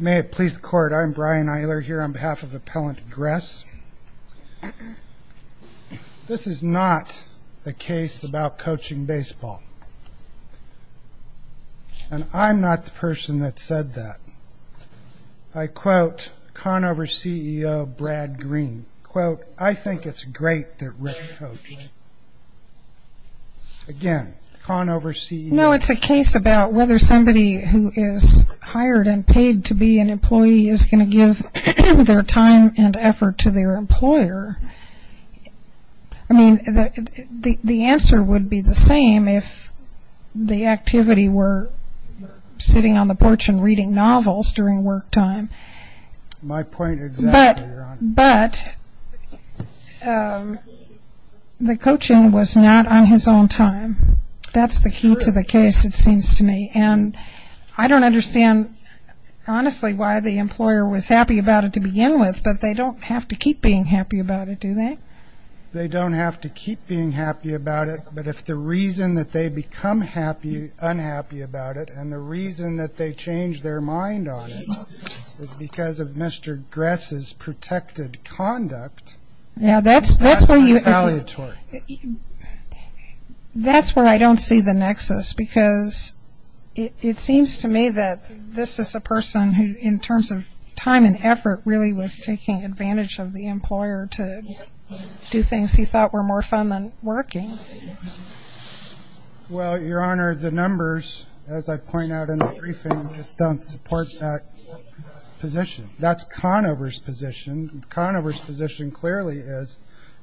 May it please the Court, I'm Brian Eiler here on behalf of Appellant Gress. This is not a case about coaching baseball. And I'm not the person that said that. I quote Conover CEO Brad Green, quote, I think it's great that Rick coached. Again, Conover CEO. No, it's a case about whether somebody who is hired and paid to be an employee is going to give their time and effort to their employer. I mean, the answer would be the same if the activity were sitting on the porch and reading novels during work time. My point exactly, Your Honor. But the coaching was not on his own time. That's the key to the case, it seems to me. And I don't understand, honestly, why the employer was happy about it to begin with, but they don't have to keep being happy about it, do they? They don't have to keep being happy about it, but if the reason that they become unhappy about it and the reason that they change their mind on it is because of Mr. Gress's protected conduct, that's retaliatory. That's where I don't see the nexus, because it seems to me that this is a person who, in terms of time and effort, really was taking advantage of the employer to do things he thought were more fun than working. Well, Your Honor, the numbers, as I point out in the briefing, just don't support that position. That's Conover's position. Conover's position clearly is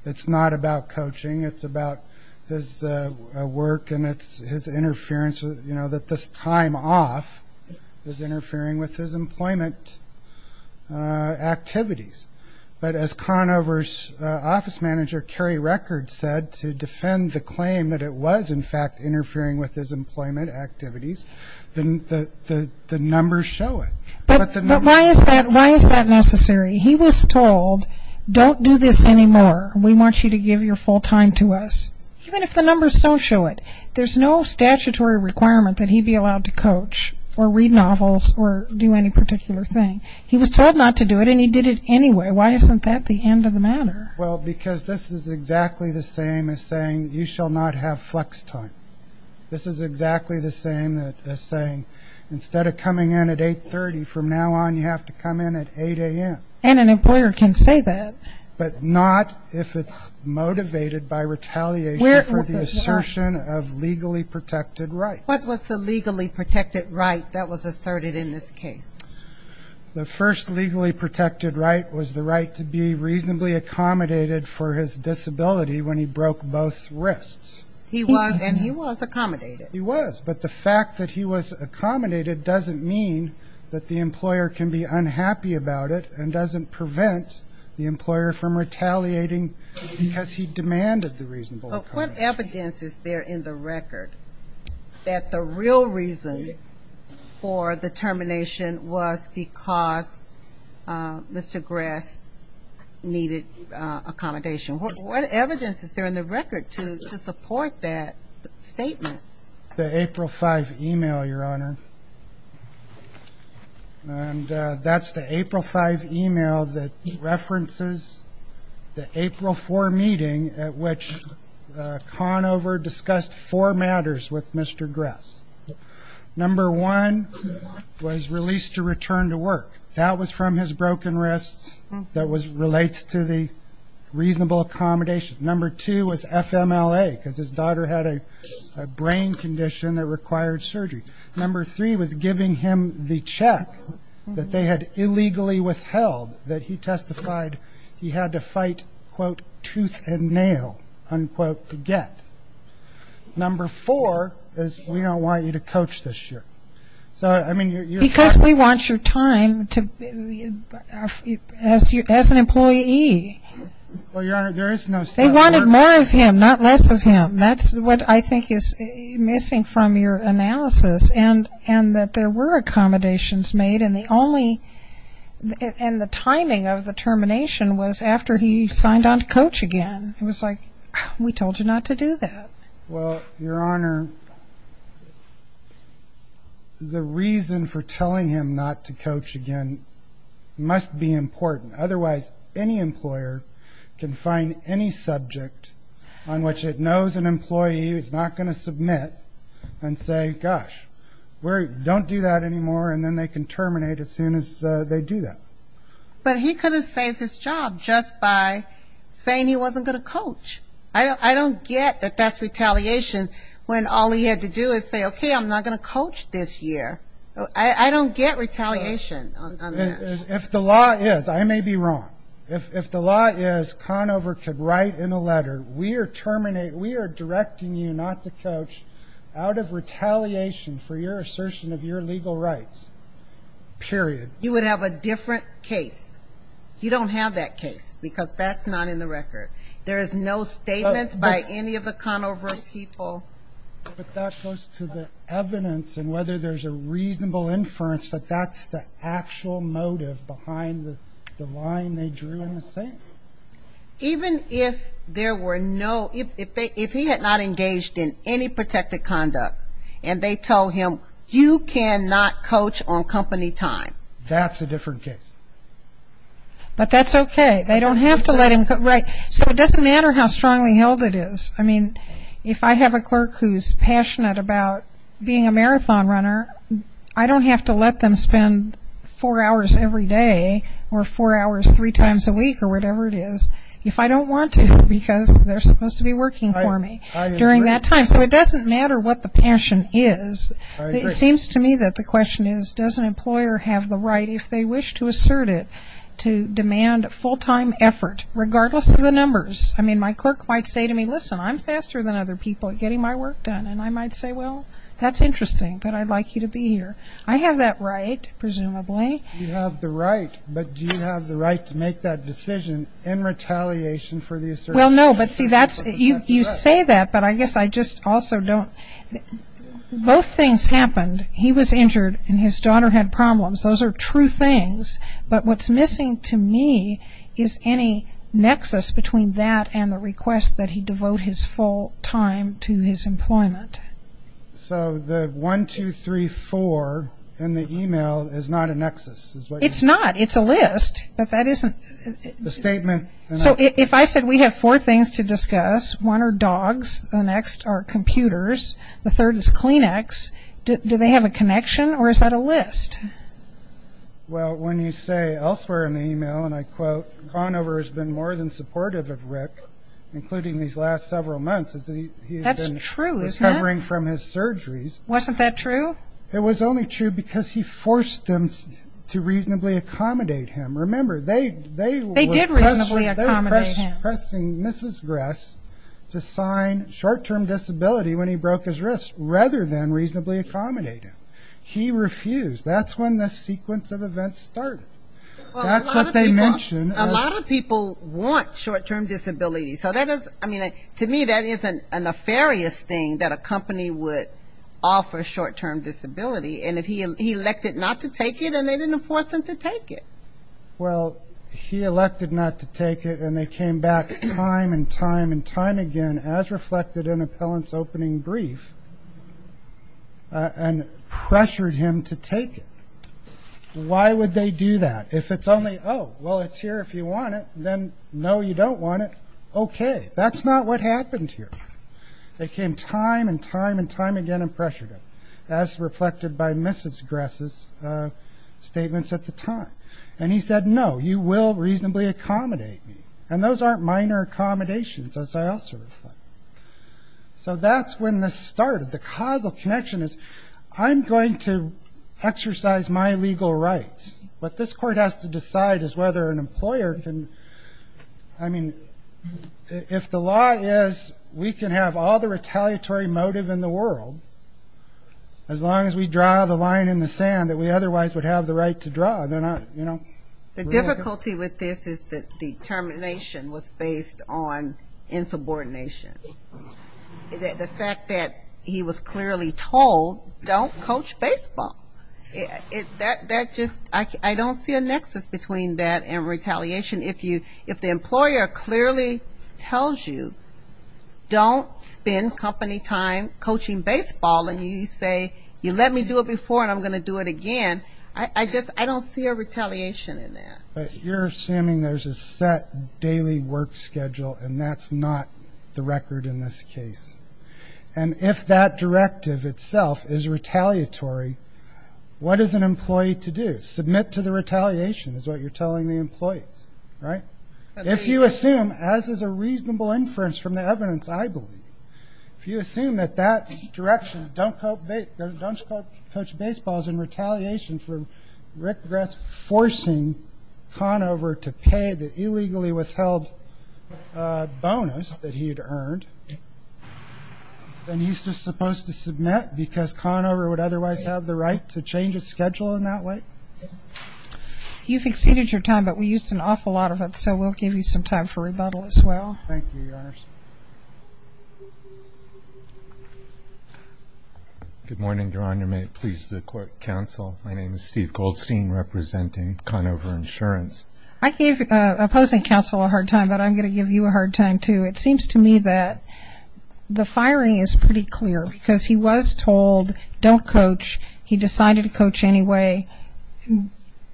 it's not about coaching, it's about his work and his interference, that this time off is interfering with his employment activities. But as Conover's office manager, Kerry Records, said, to defend the claim that it was, in fact, interfering with his employment activities, the numbers show it. But why is that necessary? He was told, don't do this anymore. We want you to give your full time to us. Even if the numbers don't show it, there's no statutory requirement that he be allowed to coach or read novels or do any particular thing. He was told not to do it, and he did it anyway. Why isn't that the end of the matter? Well, because this is exactly the same as saying you shall not have flex time. This is exactly the same as saying instead of coming in at 8.30, from now on you have to come in at 8 a.m. And an employer can say that. But not if it's motivated by retaliation for the assertion of legally protected rights. What was the legally protected right that was asserted in this case? The first legally protected right was the right to be reasonably accommodated for his disability when he broke both wrists. He was, and he was accommodated. He was. But the fact that he was accommodated doesn't mean that the employer can be unhappy about it and doesn't prevent the employer from retaliating because he demanded the reasonable accommodation. What evidence is there in the record that the real reason for the termination was because Mr. Gress needed accommodation? What evidence is there in the record to support that statement? The April 5 email, Your Honor. And that's the April 5 email that references the April 4 meeting at which Conover discussed four matters with Mr. Gress. Number one was released to return to work. That was from his broken wrists. That relates to the reasonable accommodation. Number two was FMLA because his daughter had a brain condition that required surgery. Number three was giving him the check that they had illegally withheld that he testified he had to fight, quote, tooth and nail, unquote, to get. Number four is we don't want you to coach this year. So, I mean, you're. Because we want your time as an employee. Well, Your Honor, there is no. They wanted more of him, not less of him. That's what I think is missing from your analysis and that there were accommodations made and the timing of the termination was after he signed on to coach again. It was like, we told you not to do that. Well, Your Honor, the reason for telling him not to coach again must be important. Otherwise, any employer can find any subject on which it knows an employee is not going to submit and say, gosh, don't do that anymore, and then they can terminate as soon as they do that. But he could have saved his job just by saying he wasn't going to coach. I don't get that that's retaliation when all he had to do is say, okay, I'm not going to coach this year. I don't get retaliation on this. If the law is, I may be wrong, if the law is Conover could write in a letter, we are directing you not to coach out of retaliation for your assertion of your legal rights, period. You would have a different case. You don't have that case because that's not in the record. There is no statement by any of the Conover people. But that goes to the evidence and whether there's a reasonable inference that that's the actual motive behind the line they drew in the statement. Even if there were no, if he had not engaged in any protective conduct and they told him you cannot coach on company time. That's a different case. But that's okay. They don't have to let him, right. So it doesn't matter how strongly held it is. I mean, if I have a clerk who's passionate about being a marathon runner, I don't have to let them spend four hours every day or four hours three times a week or whatever it is if I don't want to because they're supposed to be working for me during that time. So it doesn't matter what the passion is. It seems to me that the question is does an employer have the right, if they wish to assert it, to demand full-time effort regardless of the numbers. I mean, my clerk might say to me, listen, I'm faster than other people at getting my work done. And I might say, well, that's interesting, but I'd like you to be here. I have that right, presumably. You have the right, but do you have the right to make that decision in retaliation for the assertion? Well, no, but see, you say that, but I guess I just also don't. Both things happened. He was injured and his daughter had problems. Those are true things. But what's missing to me is any nexus between that and the request that he devote his full time to his employment. So the 1, 2, 3, 4 in the e-mail is not a nexus. It's not. It's a list, but that isn't. The statement. So if I said we have four things to discuss, one are dogs, the next are computers, the third is Kleenex, do they have a connection or is that a list? Well, when you say elsewhere in the e-mail, and I quote, Conover has been more than supportive of Rick, including these last several months. That's true, isn't it? He's been recovering from his surgeries. Wasn't that true? It was only true because he forced them to reasonably accommodate him. Remember, they were pressing Mrs. Gress to sign short-term disability when he broke his wrist rather than reasonably accommodate him. He refused. That's when this sequence of events started. That's what they mentioned. A lot of people want short-term disability. So that is, I mean, to me that is a nefarious thing, that a company would offer short-term disability. And if he elected not to take it, then they didn't force him to take it. Well, he elected not to take it, and they came back time and time and time again, as reflected in Appellant's opening brief. And pressured him to take it. Why would they do that? If it's only, oh, well, it's here if you want it, then no, you don't want it, okay. That's not what happened here. They came time and time and time again and pressured him, as reflected by Mrs. Gress's statements at the time. And he said, no, you will reasonably accommodate me. And those aren't minor accommodations, as I also reflect. So that's when this started. The causal connection is, I'm going to exercise my legal rights. What this court has to decide is whether an employer can, I mean, if the law is, we can have all the retaliatory motive in the world, as long as we draw the line in the sand that we otherwise would have the right to draw. They're not, you know. The difficulty with this is that the termination was based on insubordination. The fact that he was clearly told, don't coach baseball. That just, I don't see a nexus between that and retaliation. If the employer clearly tells you, don't spend company time coaching baseball, and you say, you let me do it before and I'm going to do it again, I guess I don't see a retaliation in that. But you're assuming there's a set daily work schedule, and that's not the record in this case. And if that directive itself is retaliatory, what is an employee to do? Submit to the retaliation is what you're telling the employees, right? If you assume, as is a reasonable inference from the evidence I believe, if you assume that that direction, don't coach baseball, is in retaliation for Rick Gress forcing Conover to pay the illegally withheld bonus that he had earned, then he's just supposed to submit because Conover would otherwise have the right to change his schedule in that way? You've exceeded your time, but we used an awful lot of it, so we'll give you some time for rebuttal as well. Thank you, Your Honor. Good morning, Your Honor. May it please the court, counsel. My name is Steve Goldstein, representing Conover Insurance. I gave opposing counsel a hard time, but I'm going to give you a hard time too. It seems to me that the firing is pretty clear because he was told, don't coach. He decided to coach anyway,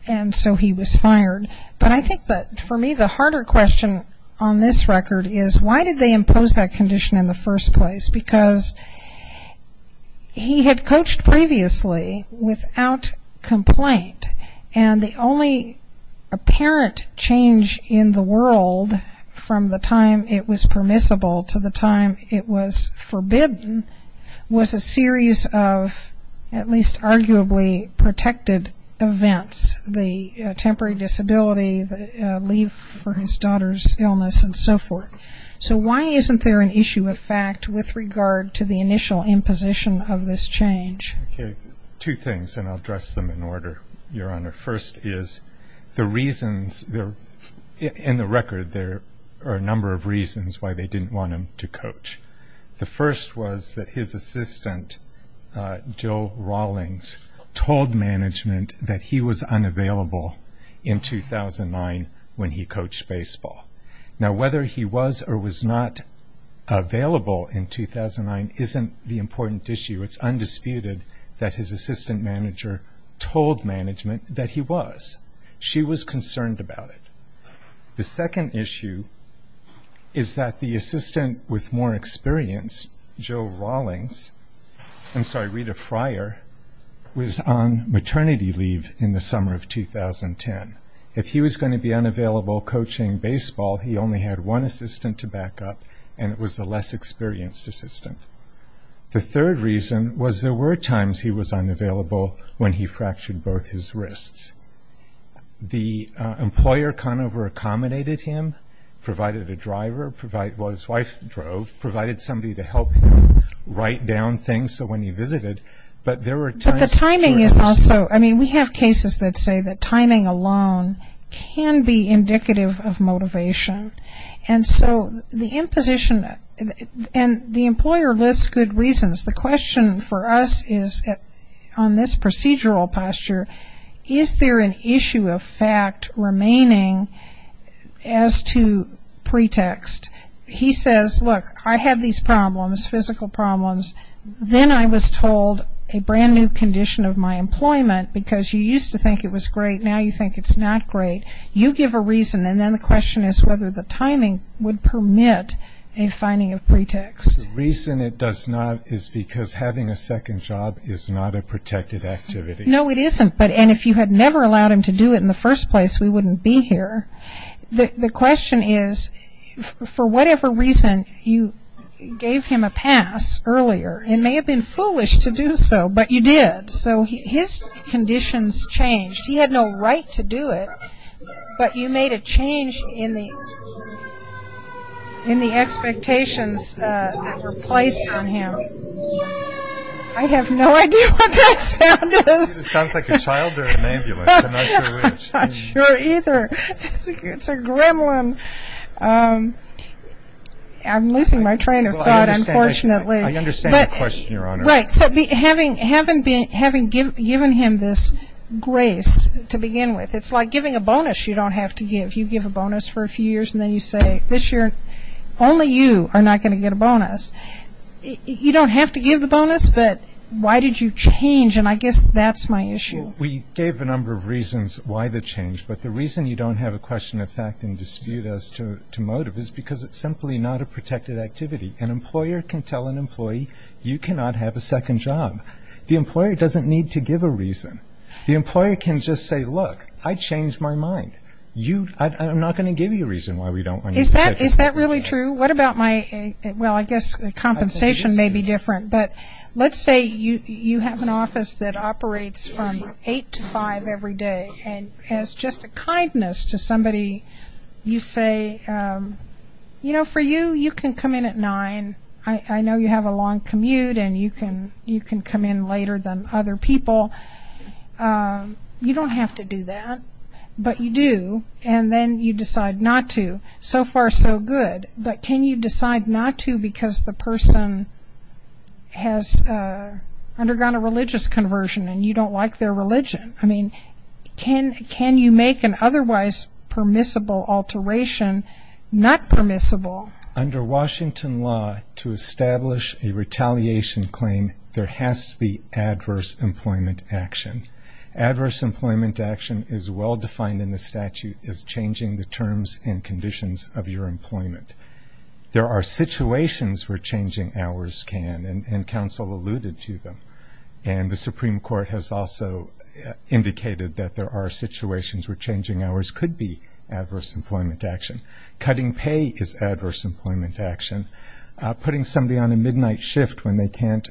and so he was fired. But I think that, for me, the harder question on this record is, why did they impose that condition in the first place? Because he had coached previously without complaint, and the only apparent change in the world from the time it was permissible to the time it was forbidden was a series of at least arguably protected events. The temporary disability, leave for his daughter's illness, and so forth. So why isn't there an issue of fact with regard to the initial imposition of this change? Two things, and I'll address them in order, Your Honor. First is the reasons, in the record, there are a number of reasons why they didn't want him to coach. The first was that his assistant, Jill Rawlings, told management that he was unavailable in 2009 when he coached baseball. Now, whether he was or was not available in 2009 isn't the important issue. It's undisputed that his assistant manager told management that he was. She was concerned about it. The second issue is that the assistant with more experience, Jill Rawlings, I'm sorry, Rita Fryer, was on maternity leave in the summer of 2010. If he was going to be unavailable coaching baseball, he only had one assistant to back up, and it was a less experienced assistant. The third reason was there were times he was unavailable when he fractured both his wrists. The employer kind of reaccommodated him, provided a driver, provided, well, his wife drove, provided somebody to help him write down things, so when he visited, but there were times. But the timing is also, I mean, we have cases that say that timing alone can be indicative of motivation. And so the imposition, and the employer lists good reasons. The question for us is on this procedural posture, is there an issue of fact remaining as to pretext? He says, look, I have these problems, physical problems. Then I was told a brand-new condition of my employment because you used to think it was great. Now you think it's not great. You give a reason, and then the question is whether the timing would permit a finding of pretext. The reason it does not is because having a second job is not a protected activity. No, it isn't. And if you had never allowed him to do it in the first place, we wouldn't be here. The question is, for whatever reason, you gave him a pass earlier. It may have been foolish to do so, but you did. So his conditions changed. He had no right to do it, but you made a change in the expectations that were placed on him. I have no idea what that sound is. It sounds like a child or an ambulance. I'm not sure which. I'm not sure either. It's a gremlin. I'm losing my train of thought, unfortunately. I understand the question, Your Honor. Right. So having given him this grace to begin with, it's like giving a bonus you don't have to give. You give a bonus for a few years, and then you say, this year only you are not going to get a bonus. You don't have to give the bonus, but why did you change? And I guess that's my issue. We gave a number of reasons why the change, but the reason you don't have a question of fact and dispute as to motive is because it's simply not a protected activity. An employer can tell an employee, you cannot have a second job. The employer doesn't need to give a reason. The employer can just say, look, I changed my mind. I'm not going to give you a reason why we don't want you to get a bonus. Is that really true? Well, I guess compensation may be different, but let's say you have an office that operates from 8 to 5 every day, and as just a kindness to somebody, you say, you know, for you, you can come in at 9. I know you have a long commute, and you can come in later than other people. You don't have to do that, but you do, and then you decide not to. So far, so good, but can you decide not to because the person has undergone a religious conversion, and you don't like their religion? I mean, can you make an otherwise permissible alteration not permissible? Under Washington law, to establish a retaliation claim, there has to be adverse employment action. Adverse employment action is well defined in the statute as changing the terms and conditions of your employment. There are situations where changing hours can, and counsel alluded to them, and the Supreme Court has also indicated that there are situations where changing hours could be adverse employment action. Cutting pay is adverse employment action. Putting somebody on a midnight shift when they can't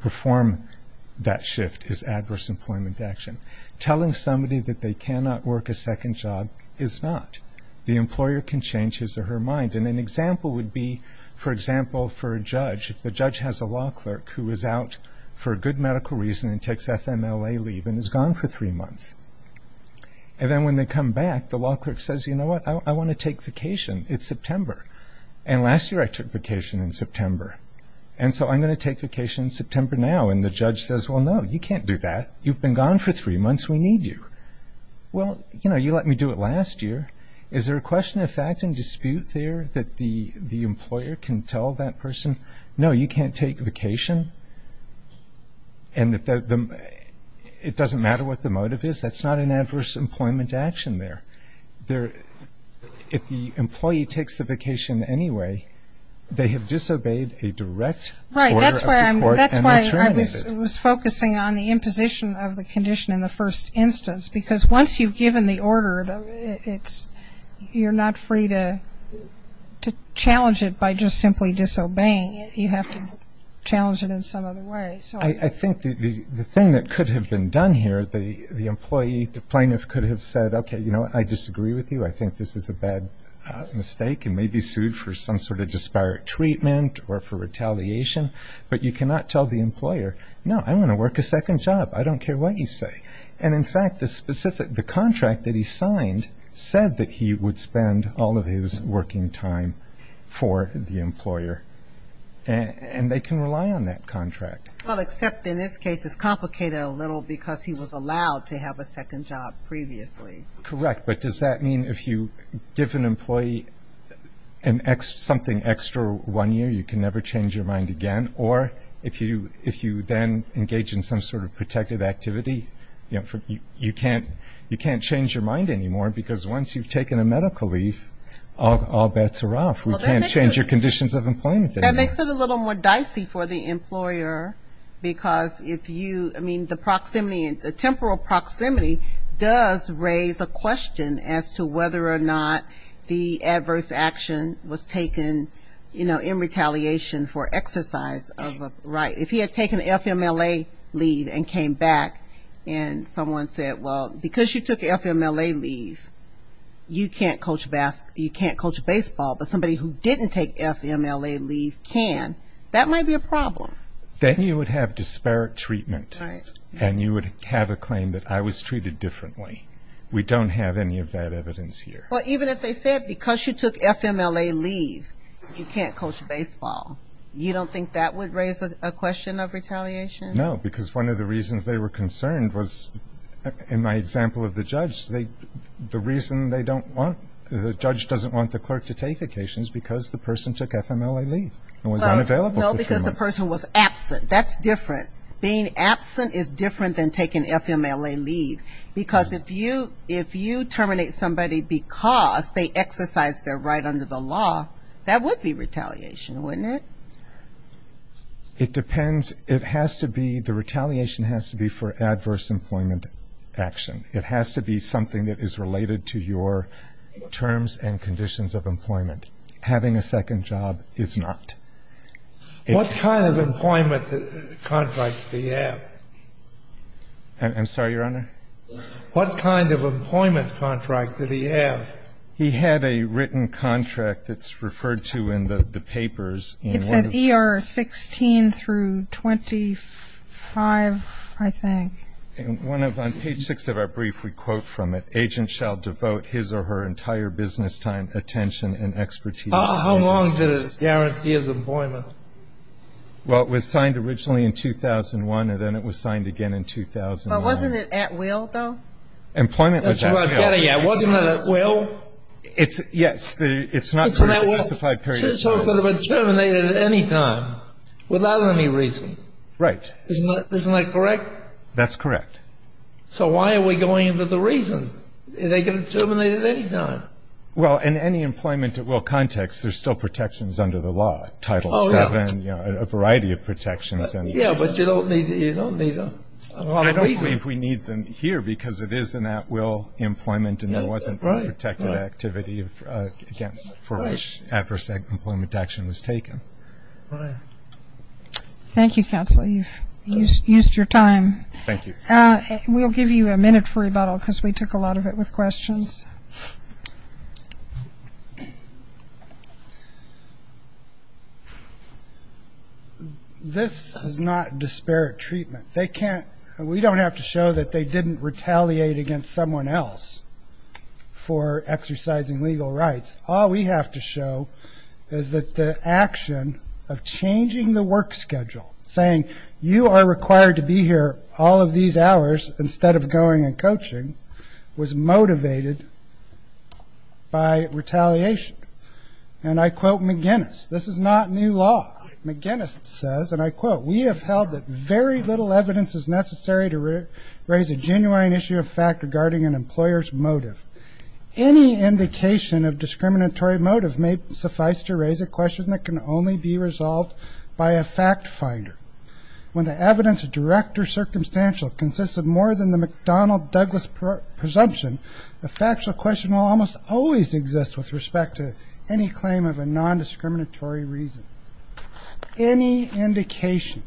perform that shift is adverse employment action. Telling somebody that they cannot work a second job is not. The employer can change his or her mind, and an example would be, for example, for a judge. If the judge has a law clerk who is out for a good medical reason and takes FMLA leave and is gone for three months, and then when they come back, the law clerk says, you know what, I want to take vacation. It's September, and last year I took vacation in September, and so I'm going to take vacation in September now, and the judge says, well, no, you can't do that. You've been gone for three months. We need you. Well, you know, you let me do it last year. Is there a question of fact and dispute there that the employer can tell that person, no, you can't take vacation, and it doesn't matter what the motive is. That's not an adverse employment action there. If the employee takes the vacation anyway, they have disobeyed a direct order of the court and are terminated. It was focusing on the imposition of the condition in the first instance because once you've given the order, you're not free to challenge it by just simply disobeying it. You have to challenge it in some other way. I think the thing that could have been done here, the employee, the plaintiff could have said, okay, you know what, I disagree with you. I think this is a bad mistake and may be sued for some sort of disparate treatment or for retaliation, but you cannot tell the employer, no, I want to work a second job. I don't care what you say. And, in fact, the contract that he signed said that he would spend all of his working time for the employer, and they can rely on that contract. Well, except in this case it's complicated a little because he was allowed to have a second job previously. Correct, but does that mean if you give an employee something extra one year, you can never change your mind again? Or if you then engage in some sort of protective activity, you can't change your mind anymore because once you've taken a medical leave, all bets are off. We can't change your conditions of employment anymore. That makes it a little more dicey for the employer because if you, I mean, the proximity, the temporal proximity does raise a question as to whether or not the adverse action was taken in retaliation for exercise of a right. If he had taken FMLA leave and came back and someone said, well, because you took FMLA leave, you can't coach baseball, but somebody who didn't take FMLA leave can, that might be a problem. Then you would have disparate treatment, and you would have a claim that I was treated differently. We don't have any of that evidence here. Well, even if they said because you took FMLA leave, you can't coach baseball, you don't think that would raise a question of retaliation? No, because one of the reasons they were concerned was, in my example of the judge, the reason they don't want, the judge doesn't want the clerk to take vacations because the person took FMLA leave and was unavailable for three months. No, because the person was absent. That's different. Being absent is different than taking FMLA leave because if you terminate somebody because they exercised their right under the law, that would be retaliation, wouldn't it? It depends. It has to be, the retaliation has to be for adverse employment action. It has to be something that is related to your terms and conditions of employment. Having a second job is not. What kind of employment contract do you have? I'm sorry, Your Honor? What kind of employment contract did he have? He had a written contract that's referred to in the papers. It's at ER 16 through 25, I think. On page 6 of our brief, we quote from it, agents shall devote his or her entire business time, attention, and expertise. How long did it guarantee his employment? Well, it was signed originally in 2001, and then it was signed again in 2009. But wasn't it at will, though? Employment was at will. That's what I'm getting at. Wasn't it at will? Yes, it's not for a specified period of time. So it could have been terminated at any time without any reason. Right. Isn't that correct? That's correct. So why are we going into the reasons? They could have terminated at any time. Well, in any employment at will context, there's still protections under the law. Title VII, you know, a variety of protections. Yeah, but you don't need them. I don't believe we need them here because it is an at will employment and there wasn't any protected activity, again, for which adverse employment action was taken. Right. Thank you, counsel. You've used your time. Thank you. We'll give you a minute for rebuttal because we took a lot of it with questions. This is not disparate treatment. We don't have to show that they didn't retaliate against someone else for exercising legal rights. All we have to show is that the action of changing the work schedule, saying you are required to be here all of these hours instead of going and coaching, was motivated by retaliation. And I quote McGinnis, this is not new law. McGinnis says, and I quote, we have held that very little evidence is necessary to raise a genuine issue of fact regarding an employer's motive. Any indication of discriminatory motive may suffice to raise a question that can only be resolved by a fact finder. When the evidence is direct or circumstantial, consists of more than the McDonnell-Douglas presumption, the factual question will almost always exist with respect to any claim of a nondiscriminatory reason. Any indication.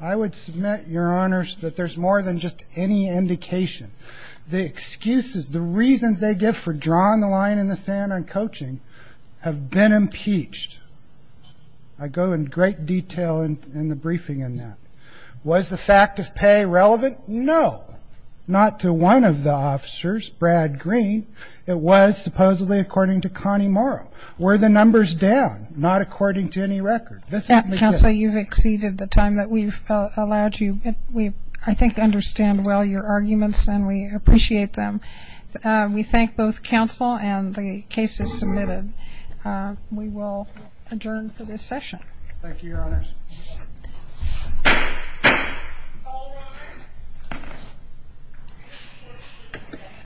I would submit, Your Honors, that there's more than just any indication. The excuses, the reasons they give for drawing the line in the sand on coaching have been impeached. I go in great detail in the briefing on that. Was the fact of pay relevant? No. Not to one of the officers, Brad Green. It was supposedly according to Connie Morrow. Were the numbers down? Not according to any record. This is McGinnis. Counsel, you've exceeded the time that we've allowed you. We, I think, understand well your arguments and we appreciate them. We thank both counsel and the cases submitted. We will adjourn for this session. Thank you, Your Honors.